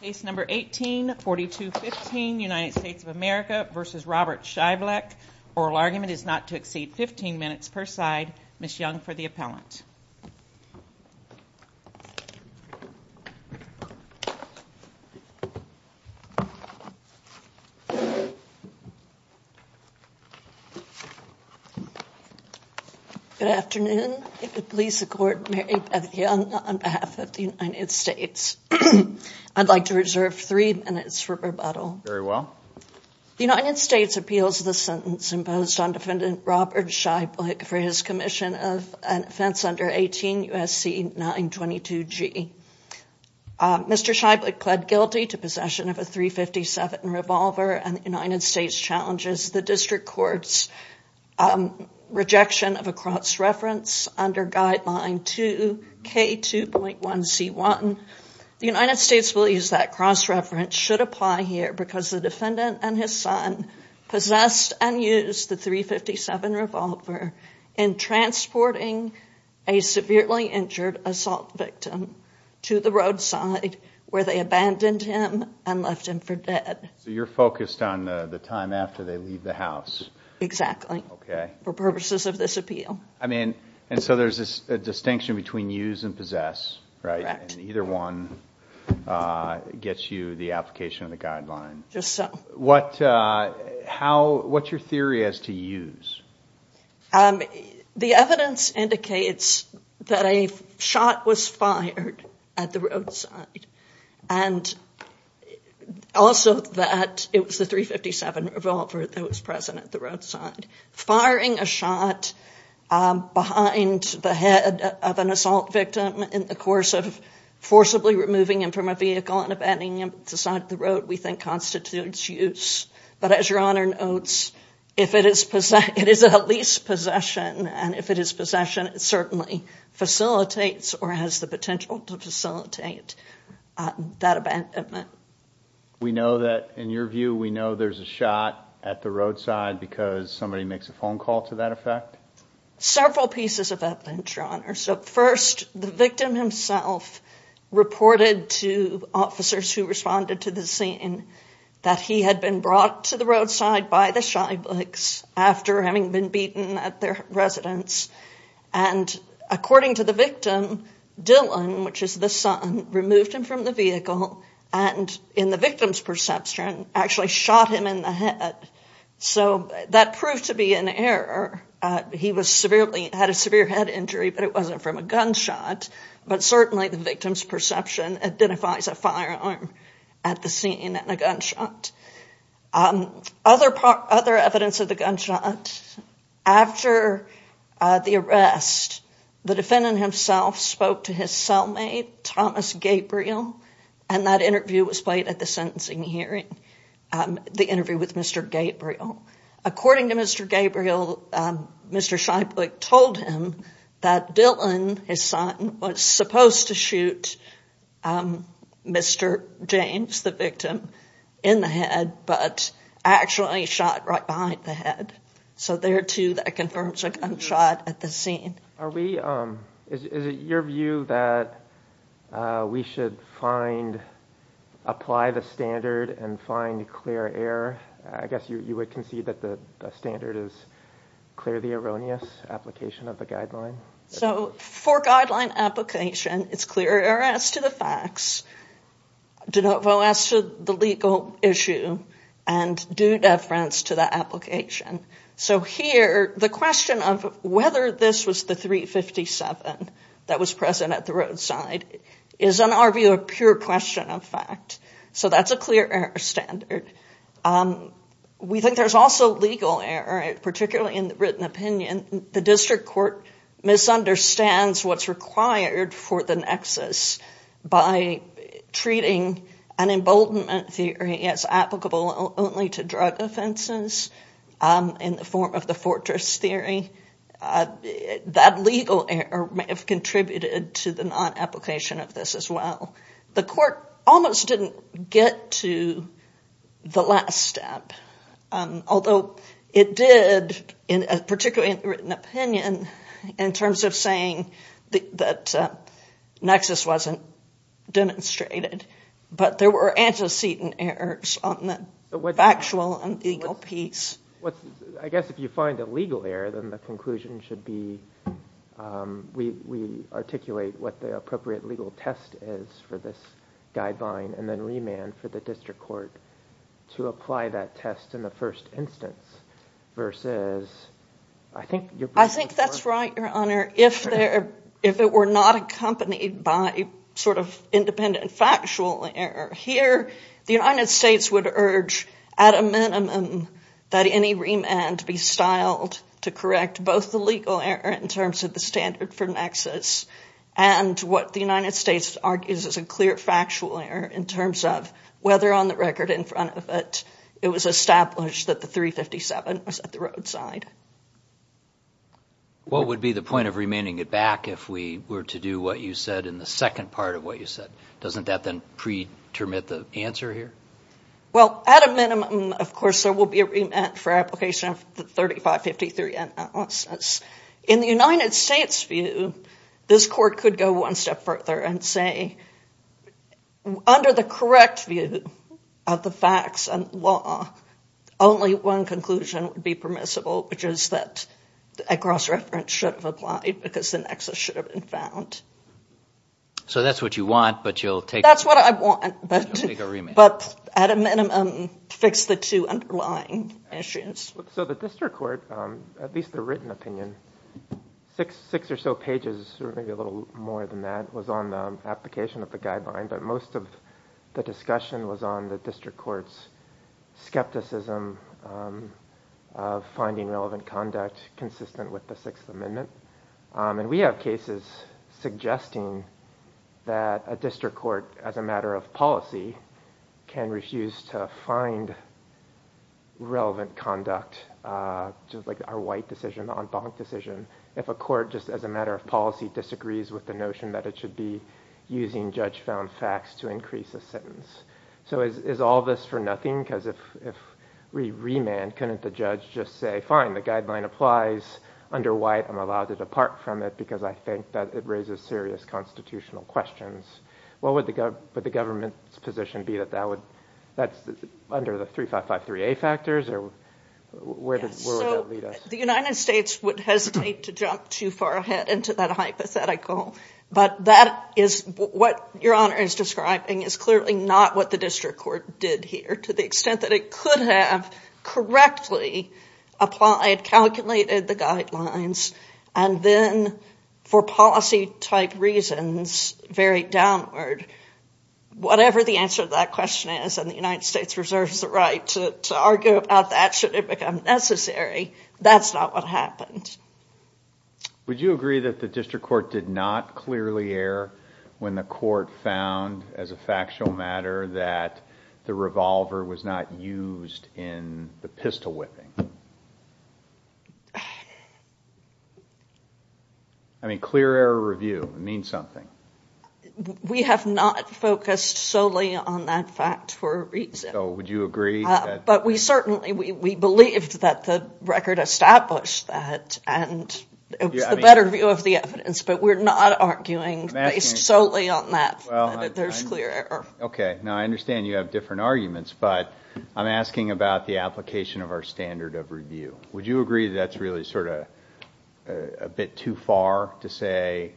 1842 15 United States of America versus Robert Scheiblich. Oral argument is not to exceed 15 minutes per side. Miss Young for the appellant. Good afternoon. Please support me on behalf of the United States. I'd like to reserve three minutes for rebuttal. Very well. The United States appeals the sentence imposed on defendant Robert Scheiblich for his commission of an offense under 18 U.S.C. 922 G. Mr. Scheiblich pled guilty to possession of a .357 revolver and the United States challenges the district court's rejection of a cross-reference under guideline 2 K 2.1 C1. The United States believes that cross-reference should apply here because the defendant and his son possessed and used the .357 revolver in transporting a severely injured assault victim to the roadside where they abandoned him and left him for dead. You're focused on the time after they leave the house. Exactly. For purposes of this appeal. There's a distinction between use and possess. Either one gets you the application of the guideline. Just so. What's your theory as to use? The evidence indicates that a shot was fired at the roadside and also that it was the .357 revolver that was present at the roadside. Firing a shot behind the head of an assault victim in the course of forcibly removing him from a vehicle and abandoning him at the side of the road we think constitutes use. But as your Honor notes, if it is a leased possession and if it is possession, it certainly facilitates or has the potential to facilitate that abandonment. We know that in your view, we know there's a shot at the roadside because somebody makes a phone call to that effect. Several pieces of evidence, Your Honor. So first, the victim himself reported to officers who responded to the scene that he had been brought to the roadside by the Shyblicks after having been beaten at their residence. And according to the victim, Dylan, which is the son, removed him from the vehicle and in the victim's perception, actually shot him in the head. So that proved to be an error. He had a severe head injury, but it wasn't from a gunshot. But certainly the victim's perception identifies a firearm at the scene and a gunshot. Other evidence of the gunshot. After the arrest, the defendant himself spoke to his cellmate, Thomas Gabriel, and that interview was played at the sentencing hearing, the interview with Mr. Gabriel. According to Mr. Gabriel, Mr. Shyblick told him that Dylan, his son, was supposed to shoot Mr. James, the victim, in the head, but actually shot right behind the head. So there too, that confirms a gunshot at the scene. Is it your view that we should apply the standard and find clear error? I guess you would concede that the standard is clear the erroneous application of the guideline? So for guideline application, it's clear error as to the facts, de novo as to the legal issue, and due deference to the application. So here, the question of whether this was the .357 that was present at the roadside is, in our view, a pure question of fact. So that's a clear error standard. We think there's also legal error, particularly in the written opinion. The district court misunderstands what's required for the nexus by treating an emboldenment theory as applicable only to drug offenses in the form of the fortress theory. That legal error may have contributed to the non-application of this as well. The court almost didn't get to the last step, although it did, particularly in the written opinion, in terms of saying that nexus wasn't demonstrated. But there were antecedent errors on the factual and legal piece. I guess if you find a legal error, then the conclusion should be, we articulate what the appropriate legal test is for this guideline, and then remand for the district court to apply that test in the first instance, versus, I think you're... I think that's right, Your Honor. Your Honor, if it were not accompanied by sort of independent factual error here, the United States would urge at a minimum that any remand be styled to correct both the legal error in terms of the standard for nexus and what the United States argues is a clear factual error in terms of whether on the record in front of it, it was established that the .357 was at the roadside. What would be the point of remanding it back if we were to do what you said in the second part of what you said? Doesn't that then pre-termit the answer here? Well, at a minimum, of course, there will be a remand for application of the .3553 analysis. In the United States' view, this court could go one step further and say, under the correct view of the facts and law, only one conclusion would be permissible, which is that a cross-reference should have applied because the nexus should have been found. So that's what you want, but you'll take... That's what I want, but at a minimum, fix the two underlying issues. So the district court, at least the written opinion, six or so pages, or maybe a little more than that, was on the application of the guideline, but most of the discussion was on the district court's skepticism of finding relevant conduct consistent with the Sixth Amendment. And we have cases suggesting that a district court, as a matter of policy, can refuse to find relevant conduct, just like our White decision, the en banc decision. If a court, just as a matter of policy, disagrees with the notion that it should be using judge-found facts to increase a sentence. So is all this for nothing? Because if we remand, couldn't the judge just say, fine, the guideline applies under White, I'm allowed to depart from it because I think that it raises serious constitutional questions? What would the government's position be that that would... That's under the .3553A factors, or where would that lead us? The United States would hesitate to jump too far ahead into that hypothetical, but that is what Your Honor is describing is clearly not what the district court did here, to the extent that it could have correctly applied, calculated the guidelines, and then, for policy-type reasons, varied downward. Whatever the answer to that question is, and the United States reserves the right to argue about that should it become necessary, that's not what happened. Would you agree that the district court did not clearly err when the court found, as a factual matter, that the revolver was not used in the pistol whipping? I mean, clear error review, it means something. We have not focused solely on that fact for a reason. So would you agree that... But we certainly, we believed that the record established that, and it was the better view of the evidence, but we're not arguing based solely on that, that there's clear error. Okay, now I understand you have different arguments, but I'm asking about the application of our standard of review. Would you agree that that's really sort of a bit too far to say,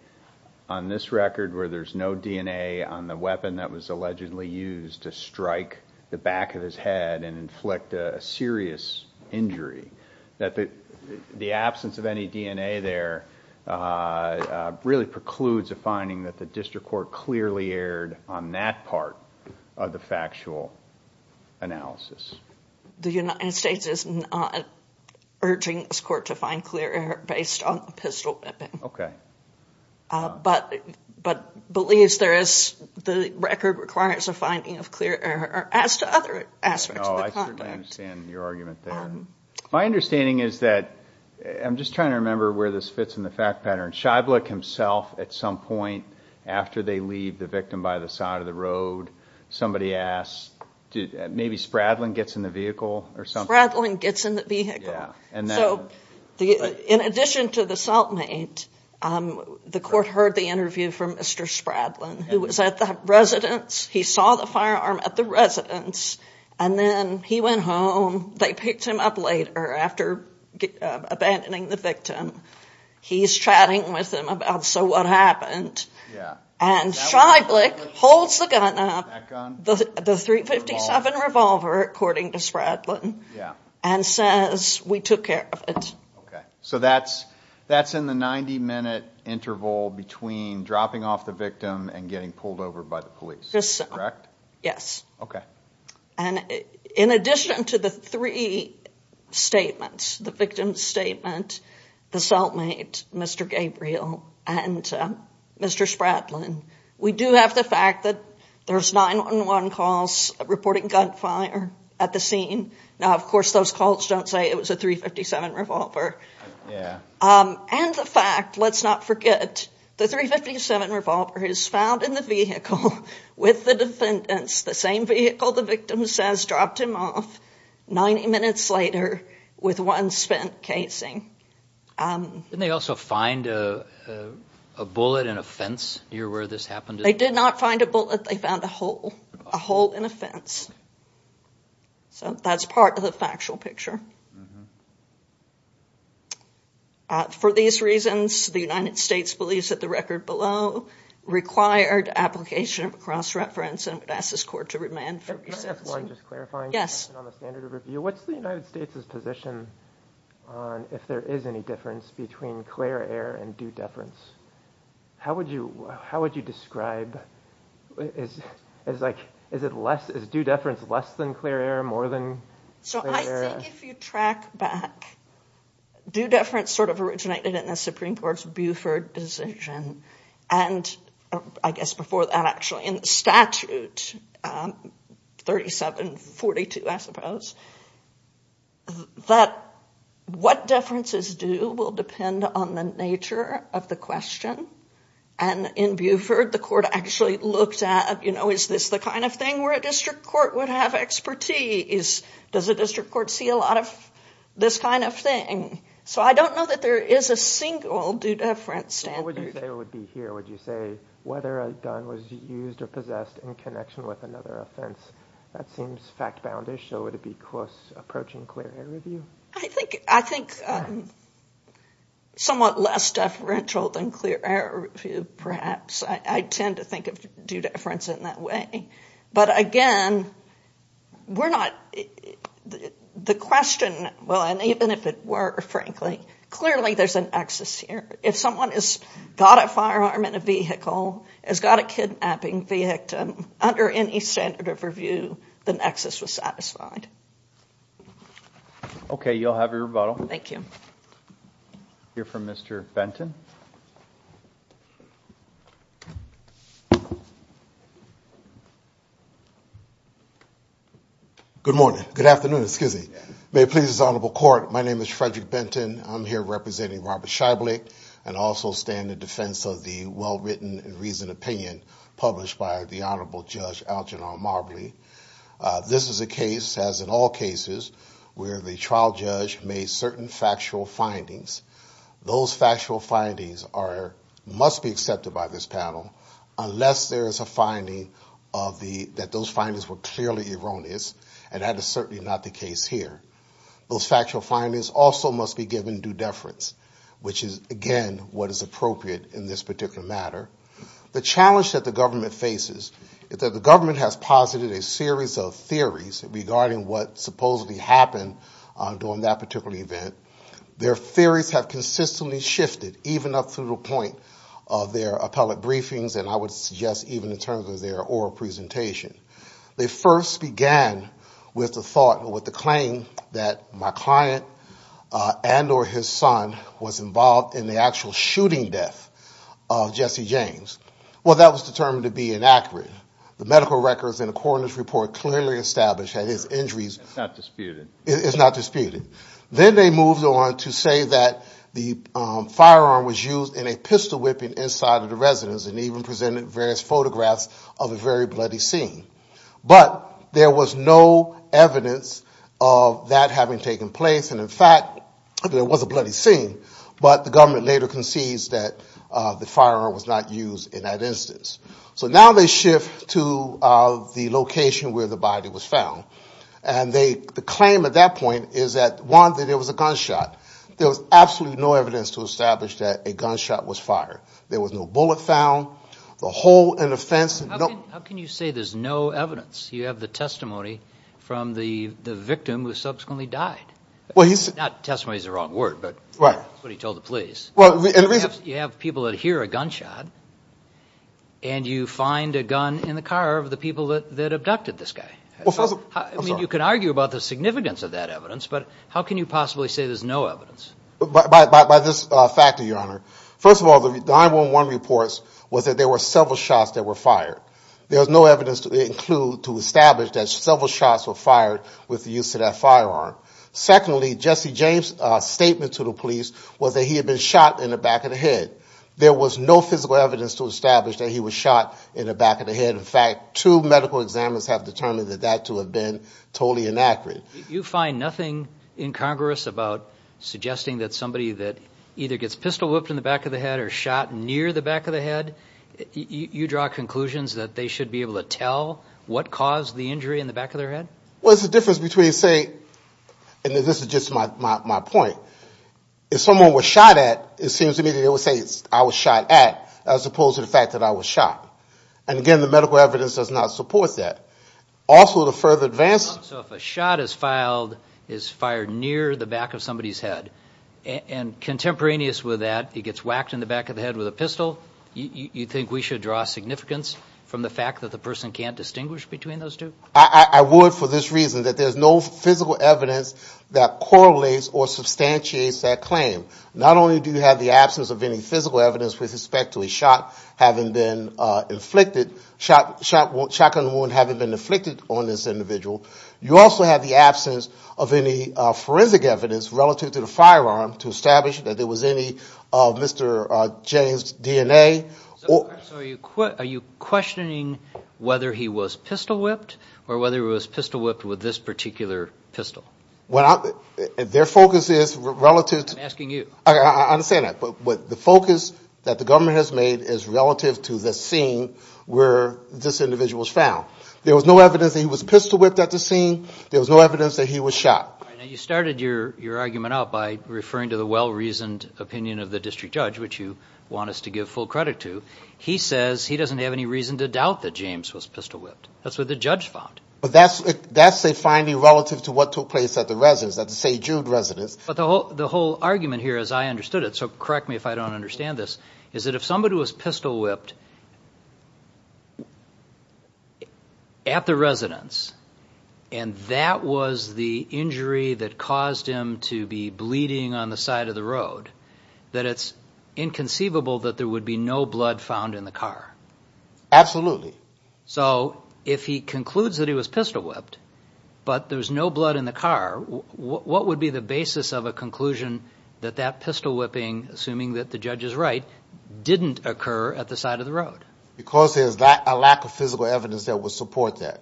on this record where there's no DNA on the weapon that was allegedly used to strike the back of his head and inflict a serious injury, that the absence of any DNA there really precludes a finding that the district court clearly erred on that part of the factual analysis? The United States is not urging this court to find clear error based on the pistol whipping. Okay. But believes there is, the record requires a finding of clear error as to other aspects of the conduct. No, I certainly understand your argument there. My understanding is that, I'm just trying to remember where this fits in the fact pattern. Schaiblich himself, at some point, after they leave the victim by the side of the road, somebody asks, maybe Spradlin gets in the vehicle or something? Spradlin gets in the vehicle. So, in addition to the assault mate, the court heard the interview from Mr. Spradlin, who was at the residence, he saw the firearm at the residence, and then he went home. They picked him up later after abandoning the victim. He's chatting with him about, so what happened? Schaiblich holds the gun up, the .357 revolver, according to Spradlin, and says, we took care of it. So that's in the 90-minute interval between dropping off the victim and getting pulled over by the police. Correct? Yes. Okay. In addition to the three statements, the victim's statement, the assault mate, Mr. Gabriel, and Mr. Spradlin, we do have the fact that there's 911 calls reporting gunfire at the scene. Now, of course, those calls don't say it was a .357 revolver. Yeah. And the fact, let's not forget, the .357 revolver is found in the vehicle with the defendants, the same vehicle the victim says dropped him off 90 minutes later with one spent casing. Didn't they also find a bullet in a fence near where this happened? They did not find a bullet. They found a hole, a hole in a fence. So that's part of the factual picture. For these reasons, the United States believes that the record below required application of cross-reference and would ask this court to remand for resensing. Can I ask one just clarifying question on the standard of review? What's the United States' position on if there is any difference between clear error and due deference? How would you describe, is it less, is due deference less than clear error, more than clear error? So I think if you track back, due deference sort of originated in the Supreme Court's Buford decision, and I guess before that, actually, in statute 3742, I suppose, that what deference is due will depend on the nature of the question. And in Buford, the court actually looked at, you know, is this the kind of thing where a district court would have expertise? Does a district court see a lot of this kind of thing? So I don't know that there is a single due deference standard. What would you say would be here? Would you say whether a gun was used or possessed in connection with another offense? That seems fact-boundish. So would it be close approaching clear error review? I think somewhat less deferential than clear error review, perhaps. I tend to think of due deference in that way. But again, we're not, the question, well, and even if it were, frankly, clearly there's an excess here. If someone has got a firearm in a vehicle, has got a kidnapping victim, under any standard of review, the excess was satisfied. Okay. You'll have your rebuttal. Thank you. We'll hear from Mr. Benton. Good morning. Good afternoon. May it please the Honorable Court, my name is Frederick Benton. I'm here representing Robert Scheiblich, and also stand in defense of the well-written and reasoned opinion published by the Honorable Judge Algernon Marbley. This is a case, as in all cases, where the trial judge made certain factual findings. Those factual findings must be accepted by this panel, unless there is a finding that those findings were clearly erroneous, and that is certainly not the case here. Those factual findings also must be given due deference, which is, again, what is appropriate in this particular matter. The challenge that the government faces, is that the government has posited a series of theories regarding what supposedly happened during that particular event. Their theories have consistently shifted, even up through the point of their appellate briefings, and I would suggest even in terms of their oral presentation. They first began with the thought, that my client and or his son was involved in the actual shooting death of Jesse James. Well, that was determined to be inaccurate. The medical records in the coroner's report clearly established that his injuries is not disputed. Then they moved on to say that the firearm was used in a pistol whipping inside of the residence, and even presented various photographs of a very bloody scene. But there was no evidence of that having taken place, and in fact there was a bloody scene, but the government later concedes that the firearm was not used in that instance. So now they shift to the location where the body was found, and the claim at that point is that, one, there was a gunshot. There was absolutely no evidence to establish that a gunshot was fired. There was no bullet found. The hole in the fence. How can you say there's no evidence? You have the testimony from the victim who subsequently died. Not testimony is the wrong word, but somebody told the police. You have people that hear a gunshot, and you find a gun in the car of the people that abducted this guy. You can argue about the significance of that evidence, but how can you possibly say there's no evidence? By this factor, Your Honor. First of all, the 9-1-1 reports was that there were several shots that were fired. There was no evidence to establish that several shots were fired with the use of that firearm. Secondly, Jesse James' statement to the police was that he had been shot in the back of the head. There was no physical evidence to establish that he was shot in the back of the head. In fact, two medical examiners have determined that that to have been totally inaccurate. You find nothing in Congress about suggesting that somebody that either gets pistol-whipped in the back of the head or shot near the back of the head, you draw conclusions that they should be able to tell what caused the injury in the back of their head? Well, there's a difference between saying, and this is just my point, if someone was shot at, it seems to me that they would say I was shot at as opposed to the fact that I was shot. And again, the medical evidence does not support that. Also, to further advance- So if a shot is fired near the back of somebody's head, and contemporaneous with that, it gets whacked in the back of the head with a pistol, you think we should draw significance from the fact that the person can't distinguish between those two? I would for this reason, that there's no physical evidence that correlates or substantiates that claim. Not only do you have the absence of any physical evidence with respect to a shot having been inflicted, a shotgun wound having been inflicted on this individual, you also have the absence of any forensic evidence relative to the firearm to establish that there was any of Mr. James' DNA. So are you questioning whether he was pistol-whipped or whether he was pistol-whipped with this particular pistol? Well, their focus is relative to- I'm asking you. I understand that. But the focus that the government has made is relative to the scene where this individual was found. There was no evidence that he was pistol-whipped at the scene. There was no evidence that he was shot. You started your argument out by referring to the well-reasoned opinion of the district judge, which you want us to give full credit to. He says he doesn't have any reason to doubt that James was pistol-whipped. That's what the judge found. But that's a finding relative to what took place at the residence, at the St. Jude residence. But the whole argument here, as I understood it, so correct me if I don't understand this, is that if somebody was pistol-whipped at the residence and that was the injury that caused him to be bleeding on the side of the road, that it's inconceivable that there would be no blood found in the car. Absolutely. So if he concludes that he was pistol-whipped but there's no blood in the car, what would be the basis of a conclusion that that pistol-whipping, assuming that the judge is right, didn't occur at the side of the road? Because there's a lack of physical evidence that would support that.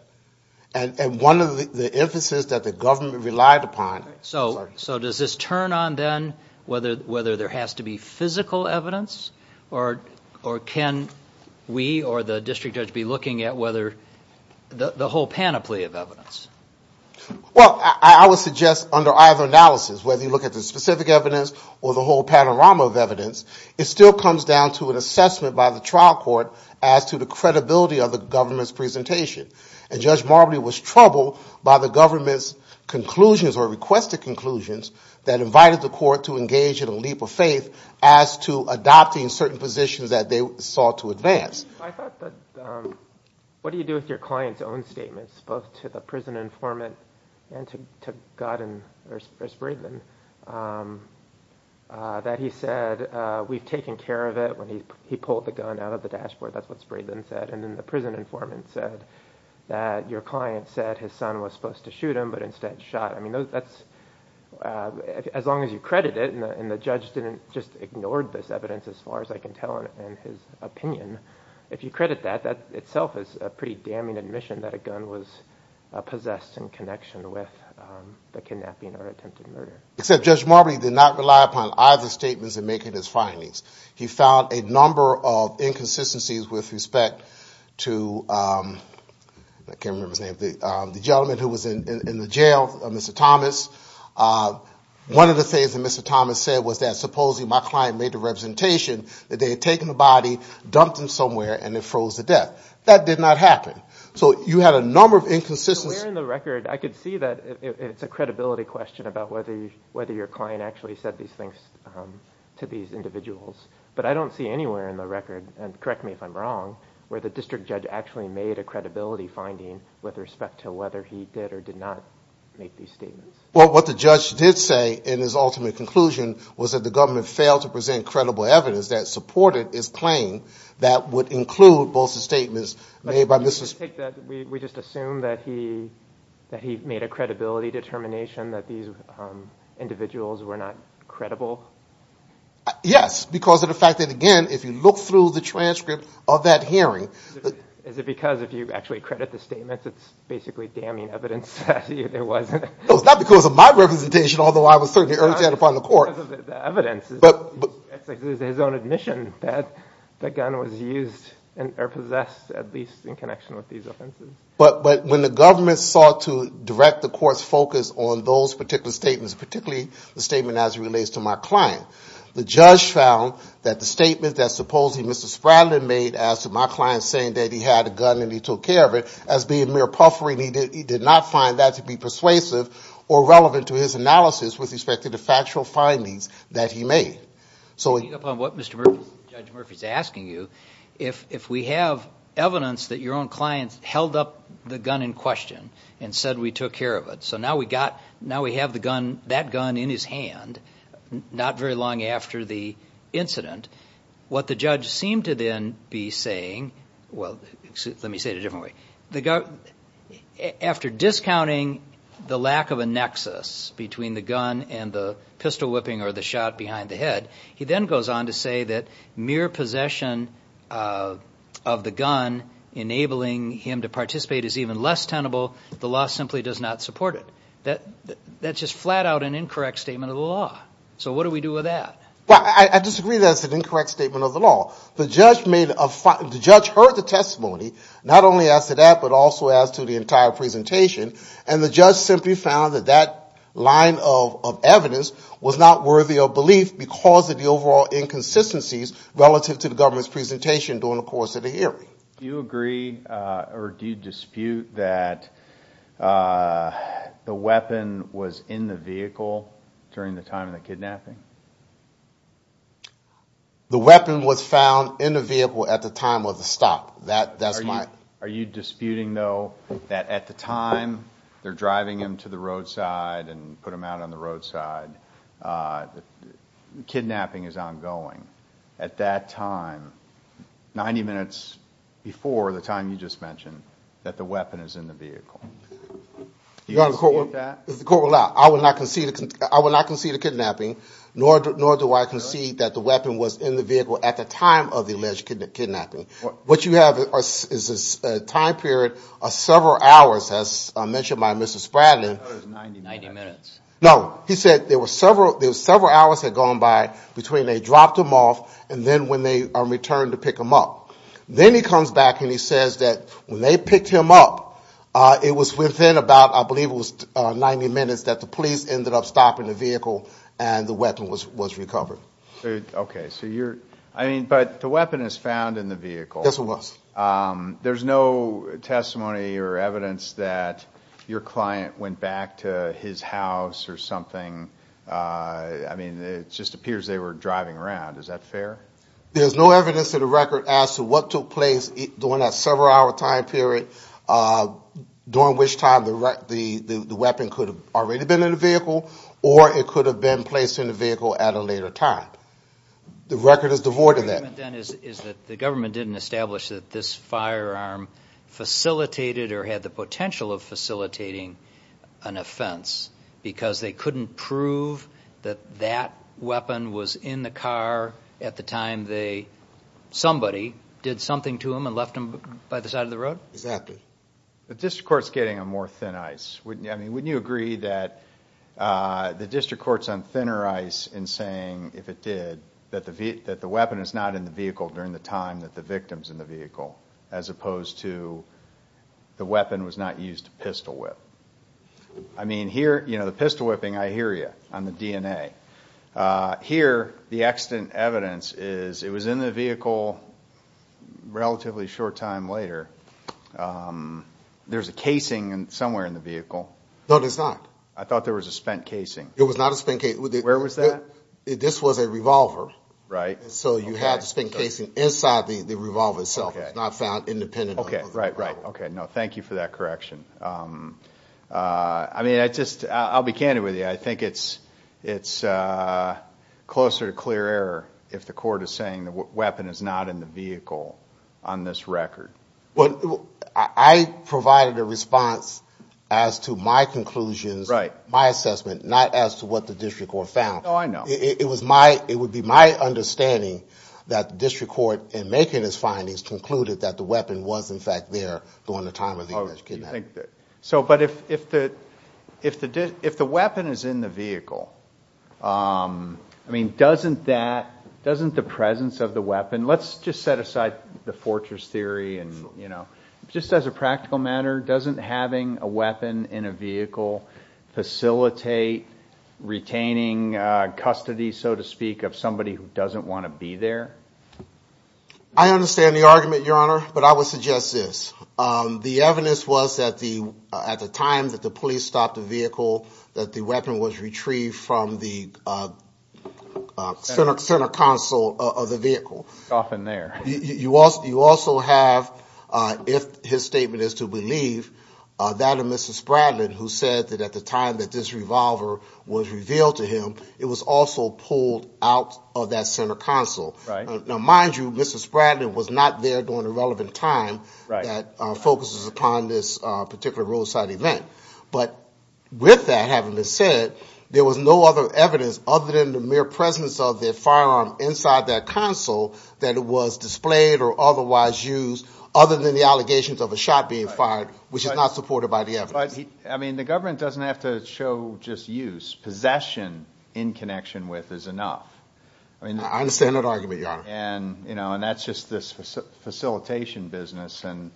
And one of the emphases that the government relied upon. So does this turn on then whether there has to be physical evidence, or can we or the district judge be looking at whether the whole panoply of evidence? Well, I would suggest under either analysis, whether you look at the specific evidence or the whole panorama of evidence, it still comes down to an assessment by the trial court as to the credibility of the government's presentation. And Judge Marbley was troubled by the government's conclusions or requested conclusions that invited the court to engage in a leap of faith as to adopting certain positions that they sought to advance. I thought that what do you do with your client's own statements, both to the prison informant and to Godden or Spraedman, that he said we've taken care of it when he pulled the gun out of the dashboard. That's what Spraedman said. And then the prison informant said that your client said his son was supposed to shoot him, but instead shot him. I mean, as long as you credit it, and the judge didn't just ignore this evidence as far as I can tell in his opinion, if you credit that, that itself is a pretty damning admission that a gun was possessed in connection with the kidnapping or attempted murder. Except Judge Marbley did not rely upon either statements in making his findings. He found a number of inconsistencies with respect to, I can't remember his name, the gentleman who was in the jail, Mr. Thomas. One of the things that Mr. Thomas said was that supposedly my client made the representation that they had taken the body, dumped him somewhere, and it froze to death. That did not happen. So you had a number of inconsistencies. But where in the record, I could see that it's a credibility question about whether your client actually said these things to these individuals. But I don't see anywhere in the record, and correct me if I'm wrong, where the district judge actually made a credibility finding with respect to whether he did or did not make these statements. Well, what the judge did say in his ultimate conclusion was that the government failed to present credible evidence that supported his claim that would include both the statements made by Mrs. We just assume that he made a credibility determination that these individuals were not credible? Yes, because of the fact that, again, if you look through the transcript of that hearing Is it because if you actually credit the statements, it's basically damning evidence that it wasn't? No, it's not because of my representation, although I was certainly urged that upon the court. It's because of the evidence. It's his own admission that the gun was used or possessed, at least in connection with these offenses. But when the government sought to direct the court's focus on those particular statements, particularly the statement as it relates to my client, the judge found that the statement that supposedly Mr. Spradlin made as to my client saying that he had a gun and he took care of it, as being mere puffering, he did not find that to be persuasive or relevant to his analysis with respect to the factual findings that he made. So what Mr. Murphy is asking you, if we have evidence that your own clients held up the gun in question and said we took care of it, so now we have that gun in his hand, not very long after the incident, what the judge seemed to then be saying, well, let me say it a different way. After discounting the lack of a nexus between the gun and the pistol whipping or the shot behind the head, he then goes on to say that mere possession of the gun enabling him to participate is even less tenable. The law simply does not support it. That's just flat out an incorrect statement of the law. So what do we do with that? I disagree that it's an incorrect statement of the law. The judge heard the testimony, not only as to that, but also as to the entire presentation, and the judge simply found that that line of evidence was not worthy of belief because of the overall inconsistencies relative to the government's presentation during the course of the hearing. Do you agree or do you dispute that the weapon was in the vehicle during the time of the kidnapping? The weapon was found in the vehicle at the time of the stop. Are you disputing, though, that at the time they're driving him to the roadside and put him out on the roadside, the kidnapping is ongoing? At that time, 90 minutes before the time you just mentioned, that the weapon is in the vehicle? Do you dispute that? The court will not. I will not concede to kidnapping, nor do I concede that the weapon was in the vehicle at the time of the alleged kidnapping. What you have is a time period of several hours, as mentioned by Mr. Spradling. I thought it was 90 minutes. No. He said there were several hours had gone by between they dropped him off and then when they returned to pick him up. Then he comes back and he says that when they picked him up, it was within about, I believe it was 90 minutes, that the police ended up stopping the vehicle and the weapon was recovered. Okay. But the weapon is found in the vehicle. Yes, it was. There's no testimony or evidence that your client went back to his house or something. I mean, it just appears they were driving around. Is that fair? There's no evidence in the record as to what took place during that several-hour time period during which time the weapon could have already been in the vehicle or it could have been placed in the vehicle at a later time. The record is devoid of that. The argument then is that the government didn't establish that this firearm facilitated or had the potential of facilitating an offense because they couldn't prove that that weapon was in the car at the time somebody did something to him and left him by the side of the road? Exactly. The district court's getting a more thin ice. I mean, wouldn't you agree that the district court's on thinner ice in saying, if it did, that the weapon is not in the vehicle during the time that the victim's in the vehicle as opposed to the weapon was not used to pistol whip? I mean, here, you know, the pistol whipping, I hear you on the DNA. Here, the extant evidence is it was in the vehicle a relatively short time later. There's a casing somewhere in the vehicle. No, there's not. I thought there was a spent casing. It was not a spent casing. Where was that? This was a revolver. Right. So you had the spent casing inside the revolver itself. Okay. It was not found independently. Okay, right, right. Okay, no, thank you for that correction. I mean, I'll be candid with you. I think it's closer to clear error if the court is saying the weapon is not in the vehicle on this record. I provided a response as to my conclusions, my assessment, not as to what the district court found. Oh, I know. It would be my understanding that the district court, in making its findings, concluded that the weapon was, in fact, there during the time of the English kidnapping. So, but if the weapon is in the vehicle, I mean, doesn't that, doesn't the presence of the weapon, let's just set aside the fortress theory and, you know, just as a practical matter, doesn't having a weapon in a vehicle facilitate retaining custody, so to speak, of somebody who doesn't want to be there? I understand the argument, Your Honor, but I would suggest this. The evidence was that at the time that the police stopped the vehicle, that the weapon was retrieved from the center console of the vehicle. It's often there. You also have, if his statement is to believe, that of Mr. Spradlin, who said that at the time that this revolver was revealed to him, it was also pulled out of that center console. Right. Now, mind you, Mr. Spradlin was not there during the relevant time that focuses upon this particular roadside event. But with that having been said, there was no other evidence, other than the mere presence of the firearm inside that console that was displayed or otherwise used, other than the allegations of a shot being fired, which is not supported by the evidence. But, I mean, the government doesn't have to show just use. Possession in connection with is enough. I understand that argument, Your Honor. And, you know, and that's just this facilitation business. And,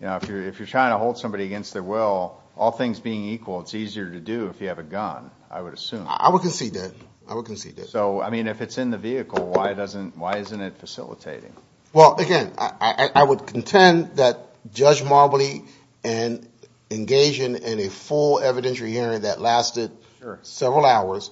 you know, if you're trying to hold somebody against their will, all things being equal, it's easier to do if you have a gun, I would assume. I would concede that. I would concede that. So, I mean, if it's in the vehicle, why doesn't, why isn't it facilitating? Well, again, I would contend that Judge Marbley, in engaging in a full evidentiary hearing that lasted several hours,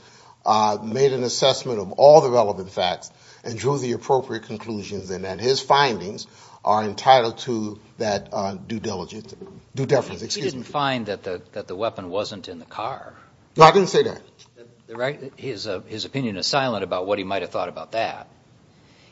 made an assessment of all the relevant facts and drew the appropriate conclusions, and that his findings are entitled to that due diligence, due deference, excuse me. He didn't find that the weapon wasn't in the car. No, I didn't say that. His opinion is silent about what he might have thought about that.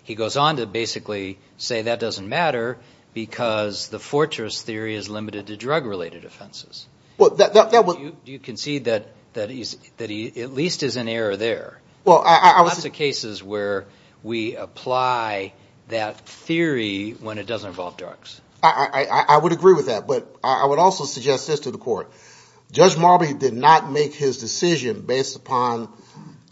He goes on to basically say that doesn't matter because the fortress theory is limited to drug-related offenses. Well, that would. Do you concede that he at least is in error there? Well, I was. Lots of cases where we apply that theory when it doesn't involve drugs. I would agree with that. But I would also suggest this to the Court. Judge Marbley did not make his decision based upon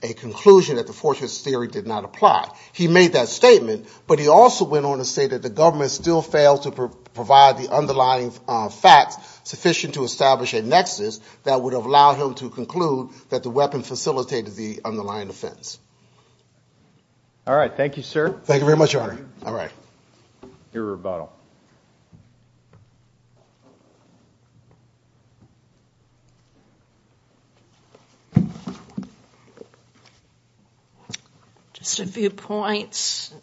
a conclusion that the fortress theory did not apply. He made that statement, but he also went on to say that the government still failed to provide the underlying facts sufficient to establish a nexus that would have allowed him to conclude that the weapon facilitated the underlying offense. All right. Thank you, sir. Thank you very much, Your Honor. All right. Your rebuttal. Just a few points.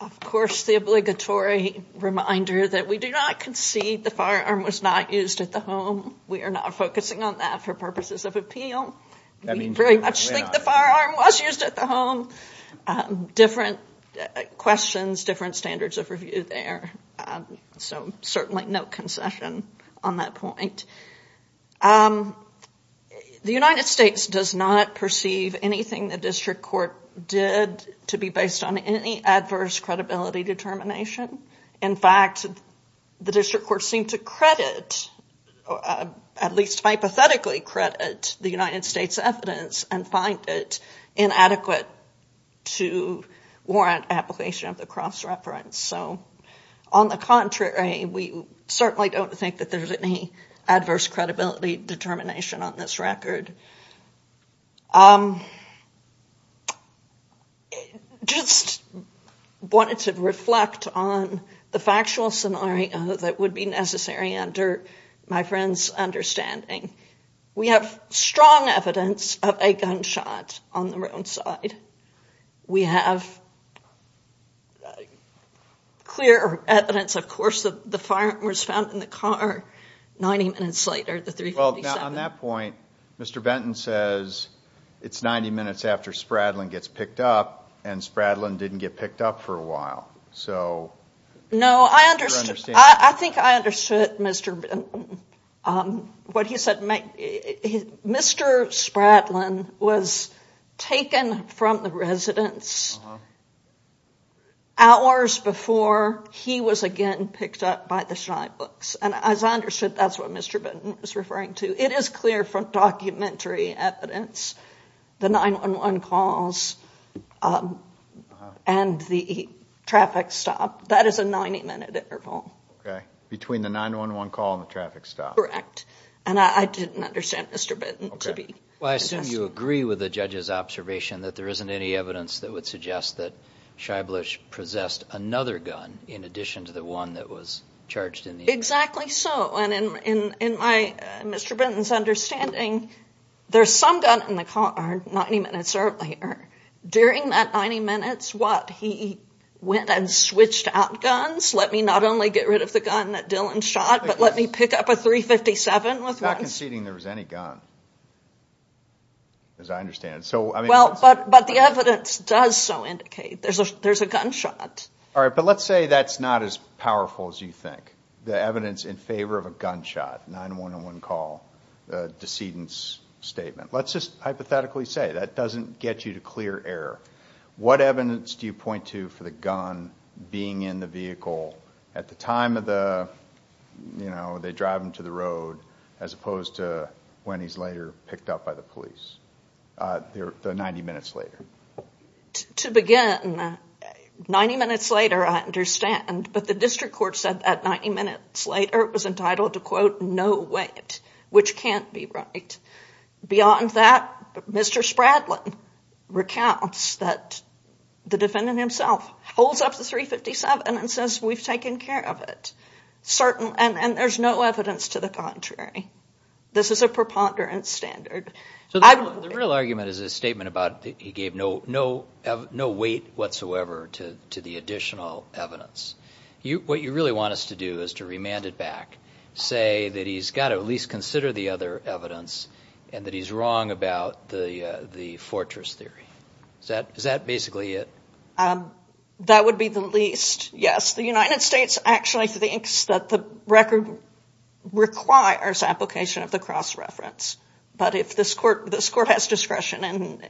Of course, the obligatory reminder that we do not concede the firearm was not used at the home. We are not focusing on that for purposes of appeal. We very much think the firearm was used at the home. Different questions, different standards of review there. So certainly no concession on that point. The United States does not perceive anything the district court did to be based on any adverse credibility determination. In fact, the district court seemed to credit, at least hypothetically credit, the United States' evidence and find it inadequate to warrant application of the cross-reference. So on the contrary, we certainly don't think that there's any adverse credibility determination on this record. Just wanted to reflect on the factual scenario that would be necessary under my friend's understanding. We have strong evidence of a gunshot on the roadside. We have clear evidence, of course, that the firearm was found in the car 90 minutes later, the 357. On that point, Mr. Benton says it's 90 minutes after Spradlin gets picked up, and Spradlin didn't get picked up for a while. No, I think I understood what he said. Mr. Spradlin was taken from the residence hours before he was again picked up by the shinebooks. As I understood, that's what Mr. Benton was referring to. It is clear from documentary evidence, the 911 calls and the traffic stop. That is a 90-minute interval. Okay, between the 911 call and the traffic stop. Correct. And I didn't understand Mr. Benton to be suggesting that. Well, I assume you agree with the judge's observation that there isn't any evidence that would suggest that Scheiblich possessed another gun in addition to the one that was charged in the incident. Exactly so. And in Mr. Benton's understanding, there's some gun in the car 90 minutes earlier. During that 90 minutes, what, he went and switched out guns? Let me not only get rid of the gun that Dylan shot, but let me pick up a 357 with one. He's not conceding there was any gun, as I understand it. Well, but the evidence does so indicate there's a gunshot. All right, but let's say that's not as powerful as you think. The evidence in favor of a gunshot, 911 call, decedent's statement. Let's just hypothetically say that doesn't get you to clear error. What evidence do you point to for the gun being in the vehicle at the time of the, you know, they drive him to the road, as opposed to when he's later picked up by the police, the 90 minutes later? To begin, 90 minutes later, I understand, but the district court said that 90 minutes later it was entitled to, quote, no weight, which can't be right. Beyond that, Mr. Spradlin recounts that the defendant himself holds up the 357 and says we've taken care of it. And there's no evidence to the contrary. This is a preponderance standard. So the real argument is his statement about he gave no weight whatsoever to the additional evidence. What you really want us to do is to remand it back, say that he's got to at least consider the other evidence and that he's wrong about the fortress theory. Is that basically it? That would be the least. Yes, the United States actually thinks that the record requires application of the cross-reference. But if this court has discretion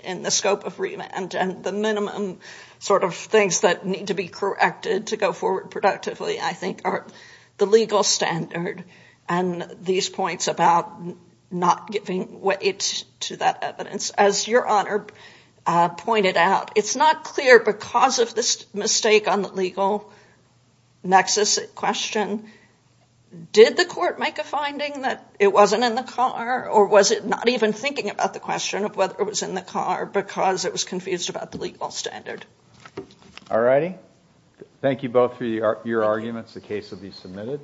in the scope of remand and the minimum sort of things that need to be corrected to go forward productively, I think are the legal standard and these points about not giving weight to that evidence. As Your Honor pointed out, it's not clear because of this mistake on the legal nexus question. Did the court make a finding that it wasn't in the car? Or was it not even thinking about the question of whether it was in the car because it was confused about the legal standard? All righty. Thank you both for your arguments. The case will be submitted.